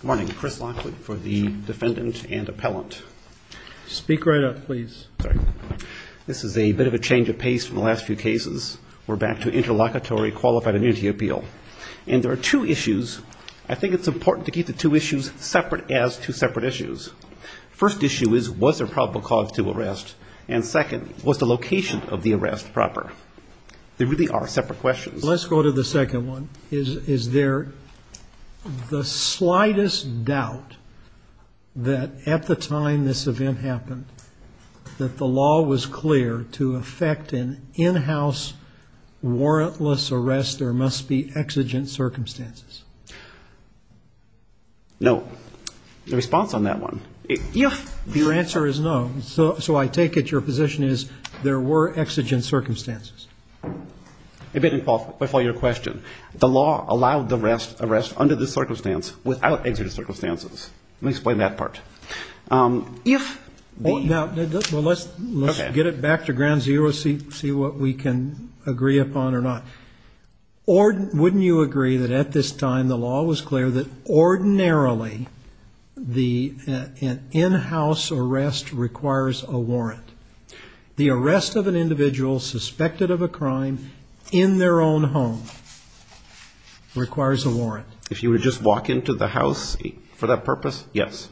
Good morning. Chris Lockwood for the defendant and appellant. Speak right up, please. This is a bit of a change of pace from the last few cases. We're back to interlocutory qualified immunity appeal. And there are two issues. I think it's important to keep the two issues separate as two separate issues. First issue is, was there probable cause to arrest? And second, was the location of the arrest proper? They really are separate questions. Let's go to the second one. Is there the slightest doubt that at the time this event happened, that the law was clear to effect an in-house warrantless arrest? There must be exigent circumstances. No. The response on that one. Your answer is no. So I take it your position is there were exigent circumstances. It didn't qualify your question. The law allowed the arrest under this circumstance without exigent circumstances. Let me explain that part. Let's get it back to ground zero, see what we can agree upon or not. Wouldn't you agree that at this time the law was clear that ordinarily an in-house arrest requires a warrant? The arrest of an individual suspected of a crime in their own home requires a warrant. If you would just walk into the house for that purpose, yes.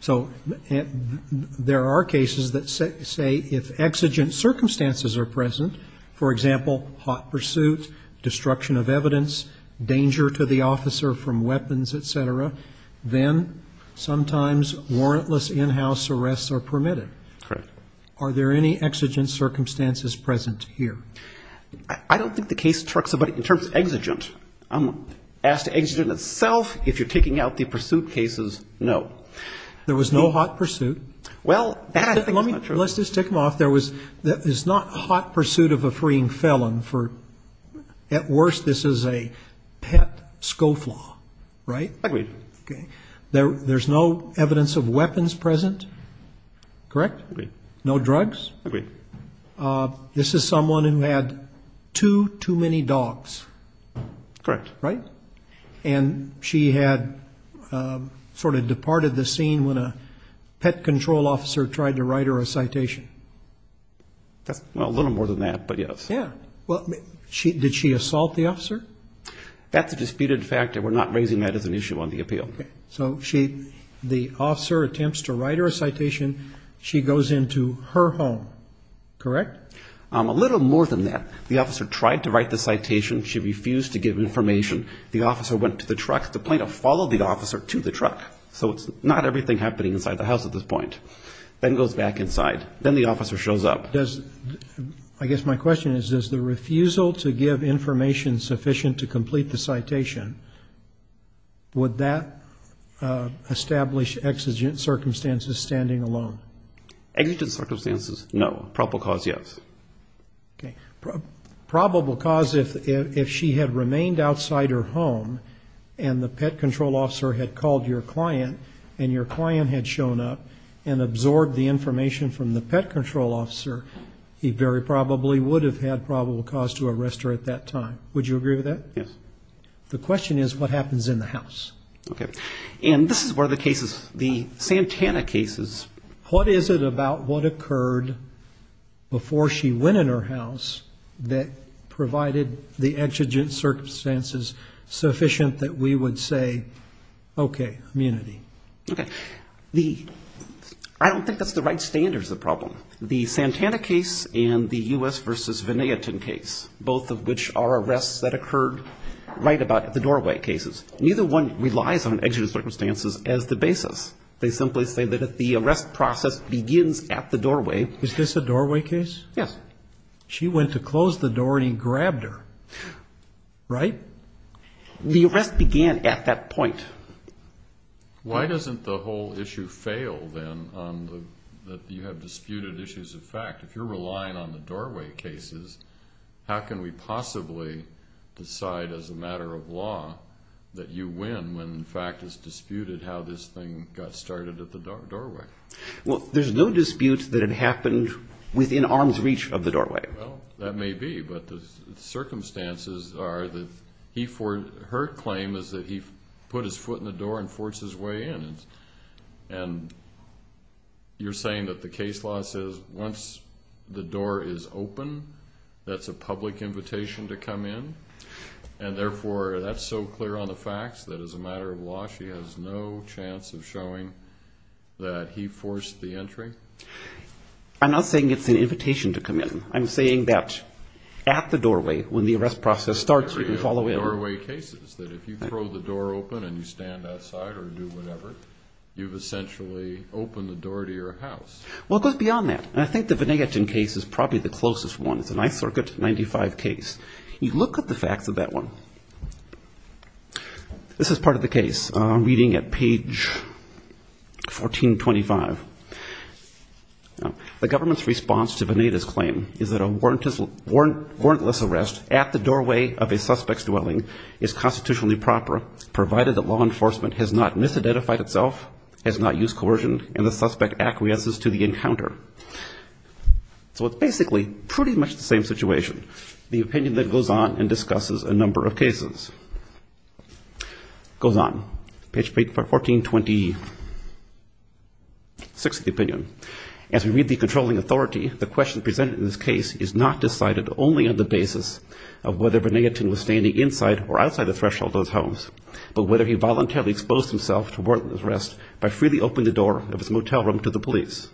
So there are cases that say if exigent circumstances are present, for example, hot pursuit, destruction of evidence, danger to the officer from weapons, et cetera, then sometimes warrantless in-house arrests are permitted. Correct. Are there any exigent circumstances present here? I don't think the case talks about it in terms of exigent. Ask the exigent itself if you're taking out the pursuit cases, no. There was no hot pursuit? Well, that's definitely not true. Let's just tick them off. There's not hot pursuit of a freeing felon for at worst this is a pet scofflaw, right? Agreed. Okay. There's no evidence of weapons present? Correct? Agreed. No drugs? Agreed. This is someone who had too, too many dogs. Correct. Right? And she had sort of departed the scene when a pet control officer tried to write her a citation. Well, a little more than that, but yes. Yeah. Did she assault the officer? That's a disputed fact, and we're not raising that as an issue on the appeal. Okay. So the officer attempts to write her a citation. She goes into her home, correct? A little more than that. The officer tried to write the citation. She refused to give information. The officer went to the truck. The plaintiff followed the officer to the truck. So it's not everything happening inside the house at this point. Then goes back inside. Then the officer shows up. I guess my question is, is the refusal to give information sufficient to complete the citation, would that establish exigent circumstances, standing alone? Exigent circumstances, no. Probable cause, yes. Okay. Probable cause, if she had remained outside her home and the pet control officer had called your client and your client had shown up and absorbed the information from the pet control officer, he very probably would have had probable cause to arrest her at that time. Would you agree with that? Yes. The question is, what happens in the house? Okay. And this is one of the cases, the Santana cases. What is it about what occurred before she went in her house that provided the exigent circumstances sufficient that we would say, okay, immunity? Okay. I don't think that's the right standards of the problem. The Santana case and the U.S. v. Van Aerten case, both of which are arrests that occurred right about at the doorway cases, neither one relies on exigent circumstances as the basis. They simply say that if the arrest process begins at the doorway. Is this a doorway case? Yes. She went to close the door and he grabbed her, right? The arrest began at that point. Why doesn't the whole issue fail, then, that you have disputed issues of fact? If you're relying on the doorway cases, how can we possibly decide as a matter of law that you win when the fact is disputed how this thing got started at the doorway? Well, there's no dispute that it happened within arm's reach of the doorway. Well, that may be. But the circumstances are that her claim is that he put his foot in the door and forced his way in. And you're saying that the case law says once the door is open, that's a public invitation to come in, and therefore that's so clear on the facts that as a matter of law she has no chance of showing that he forced the entry? I'm not saying it's an invitation to come in. I'm saying that at the doorway, when the arrest process starts, you can follow in. The doorway cases, that if you throw the door open and you stand outside or do whatever, you've essentially opened the door to your house. Well, it goes beyond that. And I think the Venetian case is probably the closest one. It's an I-Circuit 95 case. You look at the facts of that one. This is part of the case, reading at page 1425. The government's response to Veneta's claim is that a warrantless arrest at the doorway of a suspect's dwelling is constitutionally proper, provided that law enforcement has not misidentified itself, has not used coercion, and the suspect acquiesces to the encounter. So it's basically pretty much the same situation, the opinion that goes on and discusses a number of cases. It goes on, page 1426 of the opinion. As we read the controlling authority, the question presented in this case is not decided only on the basis of whether Venetian was standing inside or outside the threshold of his homes, but whether he voluntarily exposed himself to warrantless arrest by freely opening the door of his motel room to the police.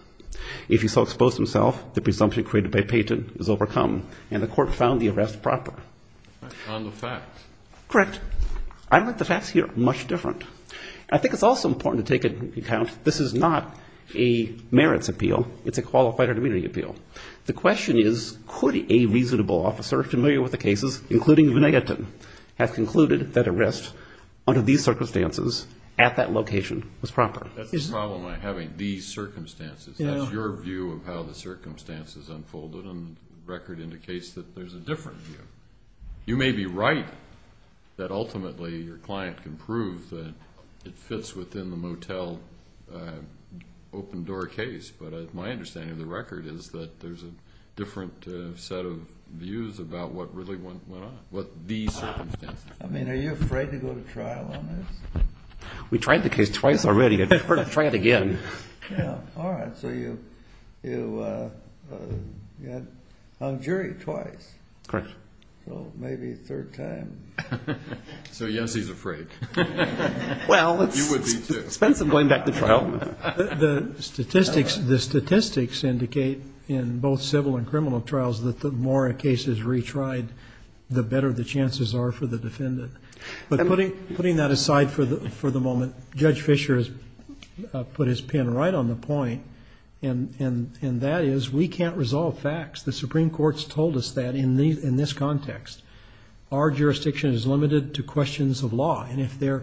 If he so exposed himself, the presumption created by Peyton is overcome, and the court found the arrest proper. On the facts. Correct. I don't think the facts here are much different. I think it's also important to take into account this is not a merits appeal. It's a qualified or demeaning appeal. The question is, could a reasonable officer familiar with the cases, including Venetian, have concluded that arrest under these circumstances at that location was proper? That's the problem I'm having, these circumstances. That's your view of how the circumstances unfolded, indicates that there's a different view. You may be right that ultimately your client can prove that it fits within the motel open-door case, but my understanding of the record is that there's a different set of views about what really went on, what the circumstances were. I mean, are you afraid to go to trial on this? We tried the case twice already. I'd prefer to try it again. All right, so you had hung jury twice. Correct. So maybe a third time. So, yes, he's afraid. Well, it's expensive going back to trial. The statistics indicate in both civil and criminal trials that the more a case is retried, the better the chances are for the defendant. But putting that aside for the moment, Judge Fischer has put his pin right on the point, and that is we can't resolve facts. The Supreme Court's told us that in this context. Our jurisdiction is limited to questions of law, and if there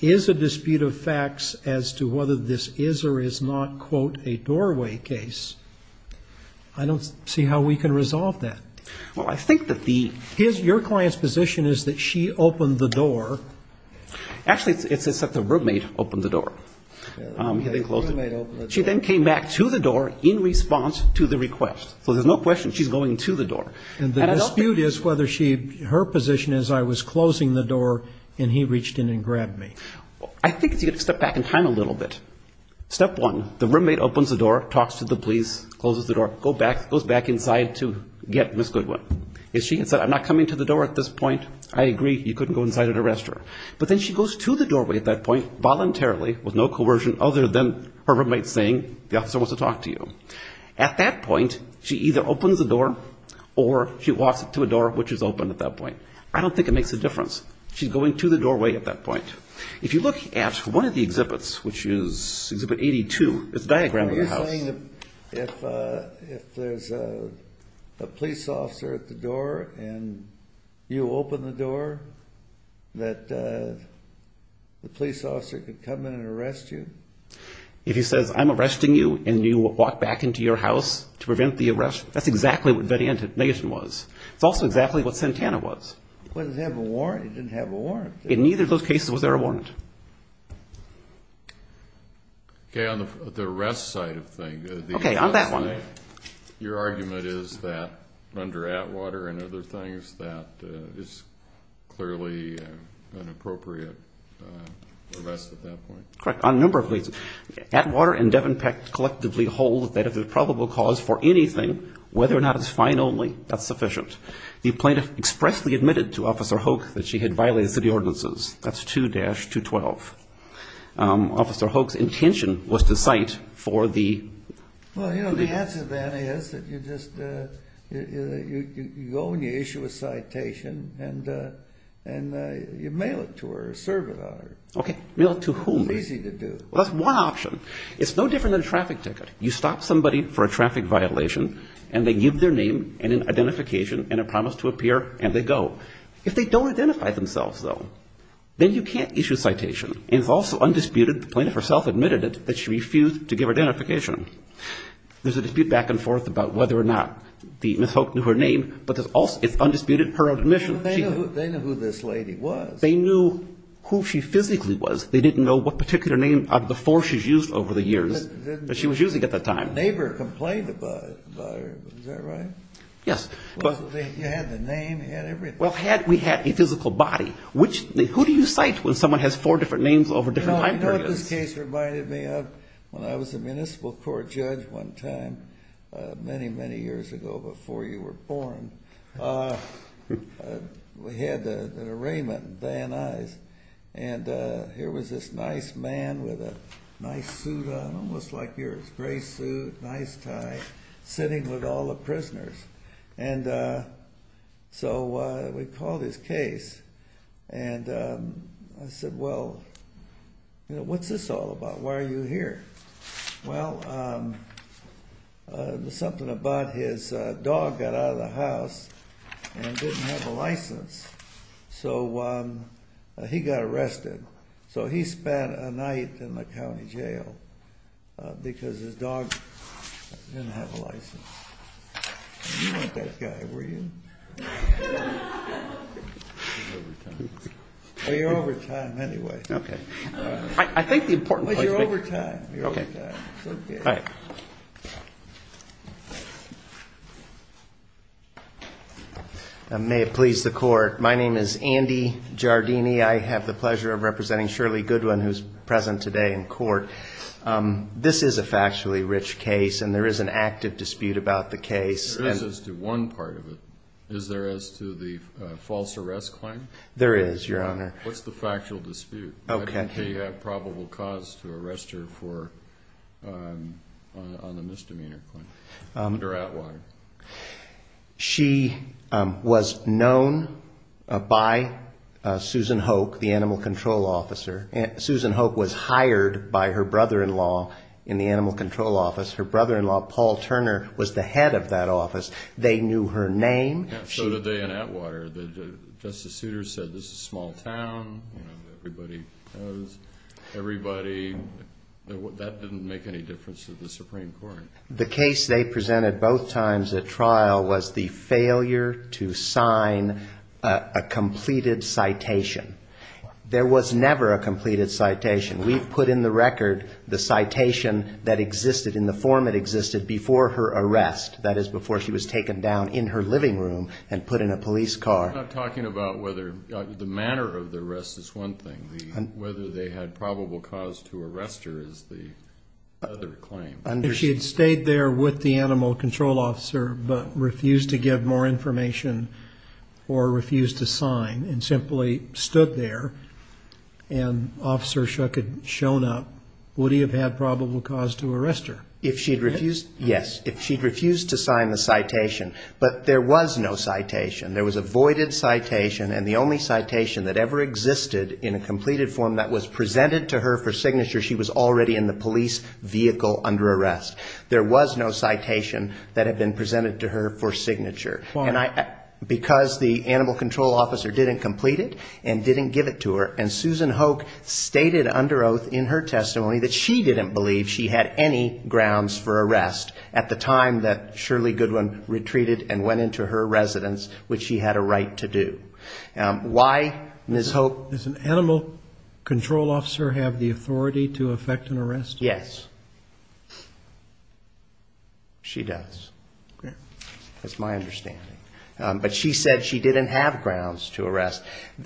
is a dispute of facts as to whether this is or is not, quote, a doorway case, I don't see how we can resolve that. Well, I think that the... Your client's position is that she opened the door. Actually, it's that the roommate opened the door. She then came back to the door in response to the request. So there's no question she's going to the door. And the dispute is whether her position is I was closing the door and he reached in and grabbed me. I think you have to step back in time a little bit. If she had said I'm not coming to the door at this point, I agree. You couldn't go inside and arrest her. But then she goes to the doorway at that point voluntarily with no coercion other than her roommate saying the officer wants to talk to you. At that point, she either opens the door or she walks to a door which is open at that point. I don't think it makes a difference. She's going to the doorway at that point. If you look at one of the exhibits, which is Exhibit 82, it's a diagram of the house. If there's a police officer at the door and you open the door that the police officer could come in and arrest you? If he says, I'm arresting you, and you walk back into your house to prevent the arrest, that's exactly what veneation was. It's also exactly what Santana was. Did it have a warrant? It didn't have a warrant. In neither of those cases was there a warrant. Okay, on the arrest side of things. Okay, on that one. Your argument is that under Atwater and other things that it's clearly an appropriate arrest at that point? Correct, on a number of reasons. Atwater and Devon Peck collectively hold that if there's a probable cause for anything, whether or not it's fine only, that's sufficient. The plaintiff expressly admitted to Officer Hoke that she had violated city ordinances. That's 2-212. Officer Hoke's intention was to cite for the... Well, you know, the answer then is that you just go and you issue a citation and you mail it to her or serve it on her. Okay, mail it to whom? It's easy to do. That's one option. It's no different than a traffic ticket. You stop somebody for a traffic violation and they give their name and an identification and a promise to appear, and they go. If they don't identify themselves, though, then you can't issue a citation. And it's also undisputed the plaintiff herself admitted it, that she refused to give her identification. There's a dispute back and forth about whether or not Ms. Hoke knew her name, but it's undisputed her own admission. They knew who this lady was. They knew who she physically was. They didn't know what particular name before she was used over the years that she was using at the time. A neighbor complained about her. Is that right? Yes. You had the name. You had everything. Well, had we had a physical body. Who do you cite when someone has four different names over different time periods? You know, this case reminded me of when I was a municipal court judge one time, many, many years ago before you were born. We had an arraignment at Van Nuys, and here was this nice man with a nice suit on, almost like yours, gray suit, nice tie, sitting with all the prisoners. And so we called his case, and I said, well, what's this all about? Why are you here? Well, something about his dog got out of the house and didn't have a license, so he got arrested. So he spent a night in the county jail because his dog didn't have a license. You weren't that guy, were you? I'm over time. Well, you're over time anyway. Okay. I think the important point is... Well, you're over time. Okay. It's okay. All right. May it please the court. My name is Andy Giardini. I have the pleasure of representing Shirley Goodwin, who's present today in court. This is a factually rich case, and there is an active dispute about the case. There is as to one part of it. Is there as to the false arrest claim? There is, Your Honor. What's the factual dispute? Okay. Why didn't he have probable cause to arrest her on the misdemeanor claim, under Atwater? She was known by Susan Hoke, the animal control officer. Susan Hoke was hired by her brother-in-law in the animal control office. Her brother-in-law, Paul Turner, was the head of that office. They knew her name. So did they in Atwater. Justice Souter said this is a small town, everybody knows everybody. That didn't make any difference to the Supreme Court. The case they presented both times at trial was the failure to sign a completed citation. There was never a completed citation. We've put in the record the citation that existed, in the form it existed, before her arrest, that is, before she was taken down in her living room and put in a police car. We're not talking about whether the manner of the arrest is one thing. Whether they had probable cause to arrest her is the other claim. If she had stayed there with the animal control officer but refused to give more information or refused to sign and simply stood there and Officer Shuck had shown up, would he have had probable cause to arrest her? If she had refused, yes. If she had refused to sign the citation. But there was no citation. There was a voided citation, and the only citation that ever existed in a completed form that was presented to her for signature, she was already in the police vehicle under arrest. There was no citation that had been presented to her for signature. Why? Because the animal control officer didn't complete it and didn't give it to her, and Susan Hoke stated under oath in her testimony that she didn't believe she had any grounds for arrest at the time that Shirley Goodwin retreated and went into her residence, which she had a right to do. Why, Ms. Hoke? Does an animal control officer have the authority to effect an arrest? Yes. She does. That's my understanding. But she said she didn't have grounds to arrest.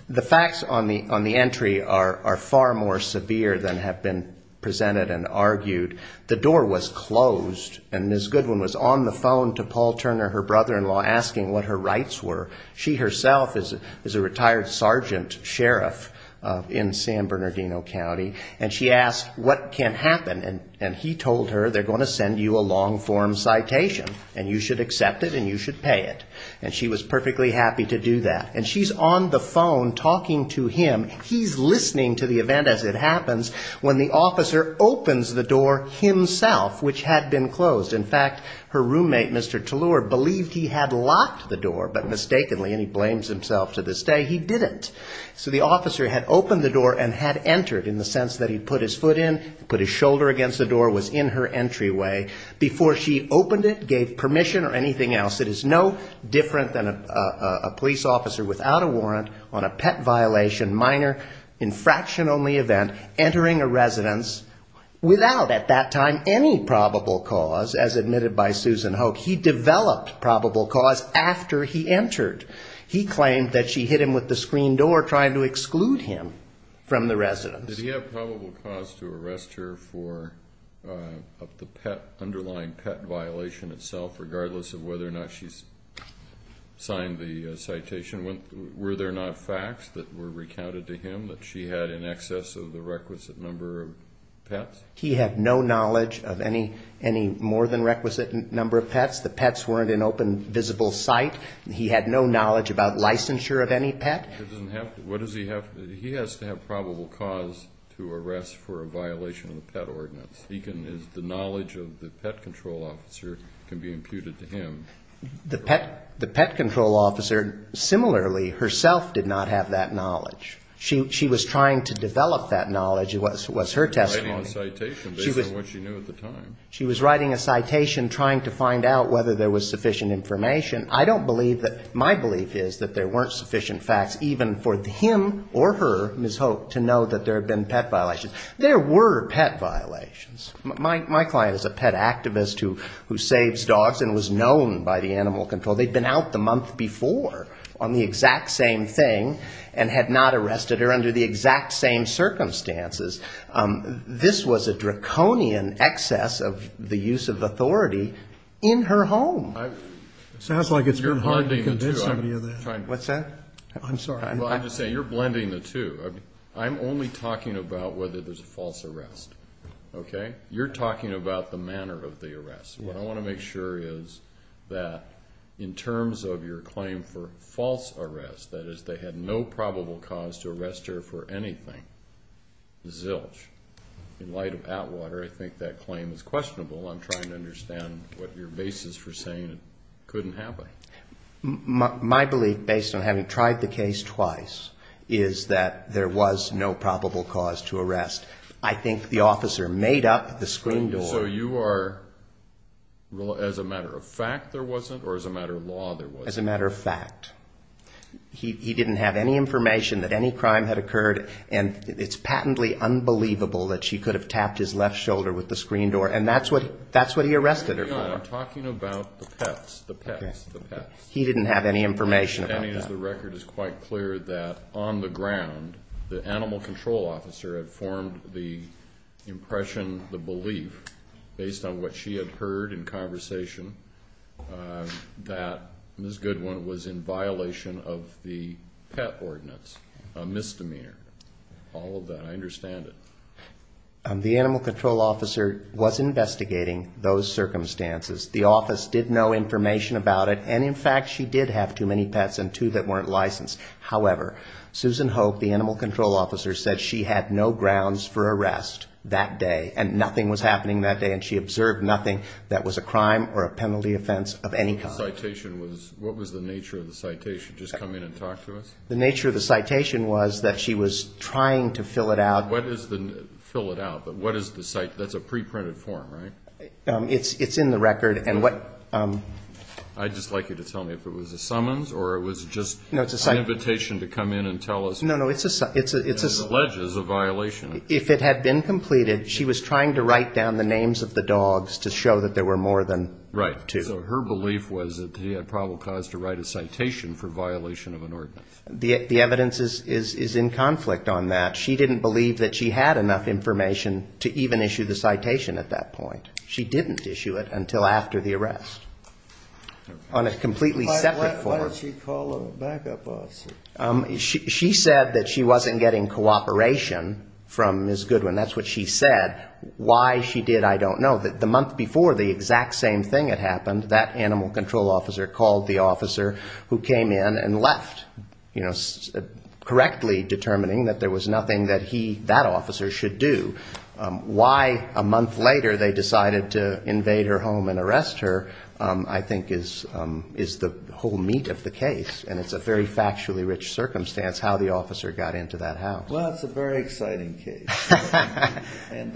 The facts on the entry are far more severe than have been presented and argued. The door was closed, and Ms. Goodwin was on the phone to Paul Turner, her brother-in-law, asking what her rights were. She herself is a retired sergeant sheriff in San Bernardino County, and she asked what can happen, and he told her they're going to send you a long-form citation, and you should accept it and you should pay it. And she was perfectly happy to do that. And she's on the phone talking to him. He's listening to the event as it happens when the officer opens the door himself, which had been closed. In fact, her roommate, Mr. Tallur, believed he had locked the door, but mistakenly, and he blames himself to this day, he didn't. So the officer had opened the door and had entered, in the sense that he put his foot in, put his shoulder against the door, was in her entryway before she opened it, gave permission or anything else. It is no different than a police officer without a warrant on a pet violation, minor, infraction-only event, entering a residence without, at that time, any probable cause, as admitted by Susan Hoke. He developed probable cause after he entered. He claimed that she hit him with the screen door, trying to exclude him from the residence. Did he have probable cause to arrest her for the underlying pet violation itself, regardless of whether or not she signed the citation? Were there not facts that were recounted to him that she had in excess of the requisite number of pets? He had no knowledge of any more than requisite number of pets. The pets weren't in open, visible sight. He had no knowledge about licensure of any pet. He has to have probable cause to arrest for a violation of the pet ordinance. The knowledge of the pet control officer can be imputed to him. The pet control officer, similarly, herself did not have that knowledge. She was trying to develop that knowledge was her testimony. She was writing a citation based on what she knew at the time. She was writing a citation trying to find out whether there was sufficient information. I don't believe that my belief is that there weren't sufficient facts, even for him or her, Ms. Hoke, to know that there had been pet violations. There were pet violations. My client is a pet activist who saves dogs and was known by the animal control. They'd been out the month before on the exact same thing and had not arrested her under the exact same circumstances. This was a draconian excess of the use of authority in her home. It sounds like it's been hard to convince somebody of that. What's that? I'm sorry. Well, I'm just saying you're blending the two. I'm only talking about whether there's a false arrest. You're talking about the manner of the arrest. What I want to make sure is that in terms of your claim for false arrest, that is they had no probable cause to arrest her for anything, zilch. In light of Atwater, I think that claim is questionable. I'm trying to understand what your basis for saying it couldn't happen. My belief, based on having tried the case twice, is that there was no probable cause to arrest. I think the officer made up the screen door. So you are as a matter of fact there wasn't or as a matter of law there wasn't? As a matter of fact. He didn't have any information that any crime had occurred, and it's patently unbelievable that she could have tapped his left shoulder with the screen door, and that's what he arrested her for. I'm talking about the pets, the pets, the pets. He didn't have any information about that. As the record is quite clear that on the ground, the animal control officer had formed the impression, the belief, based on what she had heard in conversation, that Ms. Goodwin was in violation of the pet ordinance, a misdemeanor, all of that. I understand it. The animal control officer was investigating those circumstances. The office did know information about it, and in fact she did have too many pets and two that weren't licensed. However, Susan Hope, the animal control officer, said she had no grounds for arrest that day, and nothing was happening that day, and she observed nothing that was a crime or a penalty offense of any kind. The citation was, what was the nature of the citation? Just come in and talk to us? The nature of the citation was that she was trying to fill it out. What is the, fill it out, but what is the citation? That's a pre-printed form, right? It's in the record, and what... I'd just like you to tell me if it was a summons or it was just an invitation to come in and tell us. No, no, it's a... It alleges a violation. If it had been completed, she was trying to write down the names of the dogs to show that there were more than two. Right, so her belief was that he had probable cause to write a citation for violation of an ordinance. The evidence is in conflict on that. She didn't believe that she had enough information to even issue the citation at that point. She didn't issue it until after the arrest on a completely separate form. Why did she call a backup officer? She said that she wasn't getting cooperation from Ms. Goodwin. That's what she said. Why she did, I don't know. The month before, the exact same thing had happened. That animal control officer called the officer who came in and left, correctly determining that there was nothing that he, that officer, should do. Why a month later they decided to invade her home and arrest her I think is the whole meat of the case, and it's a very factually rich circumstance how the officer got into that house. Well, it's a very exciting case. And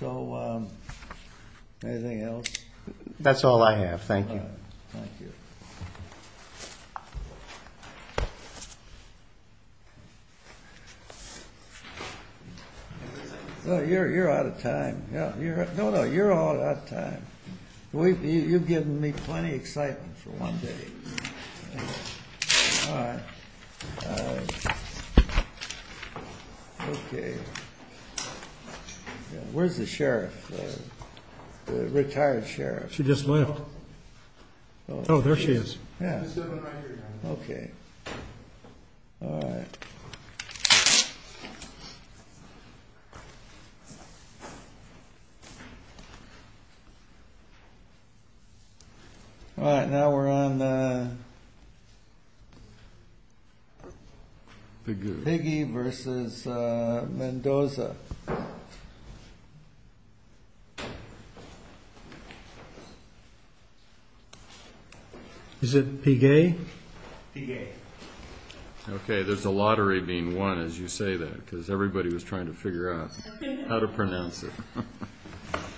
so anything else? That's all I have. Thank you. Thank you. You're out of time. No, no, you're all out of time. You've given me plenty of excitement for one day. All right. Okay. Where's the sheriff, the retired sheriff? She just left. Oh, there she is. Yeah. Okay. All right. All right. Now we're on the Piggy versus Mendoza. Piggy. Okay, there's a lottery being won as you say that because everybody was trying to figure out how to pronounce it.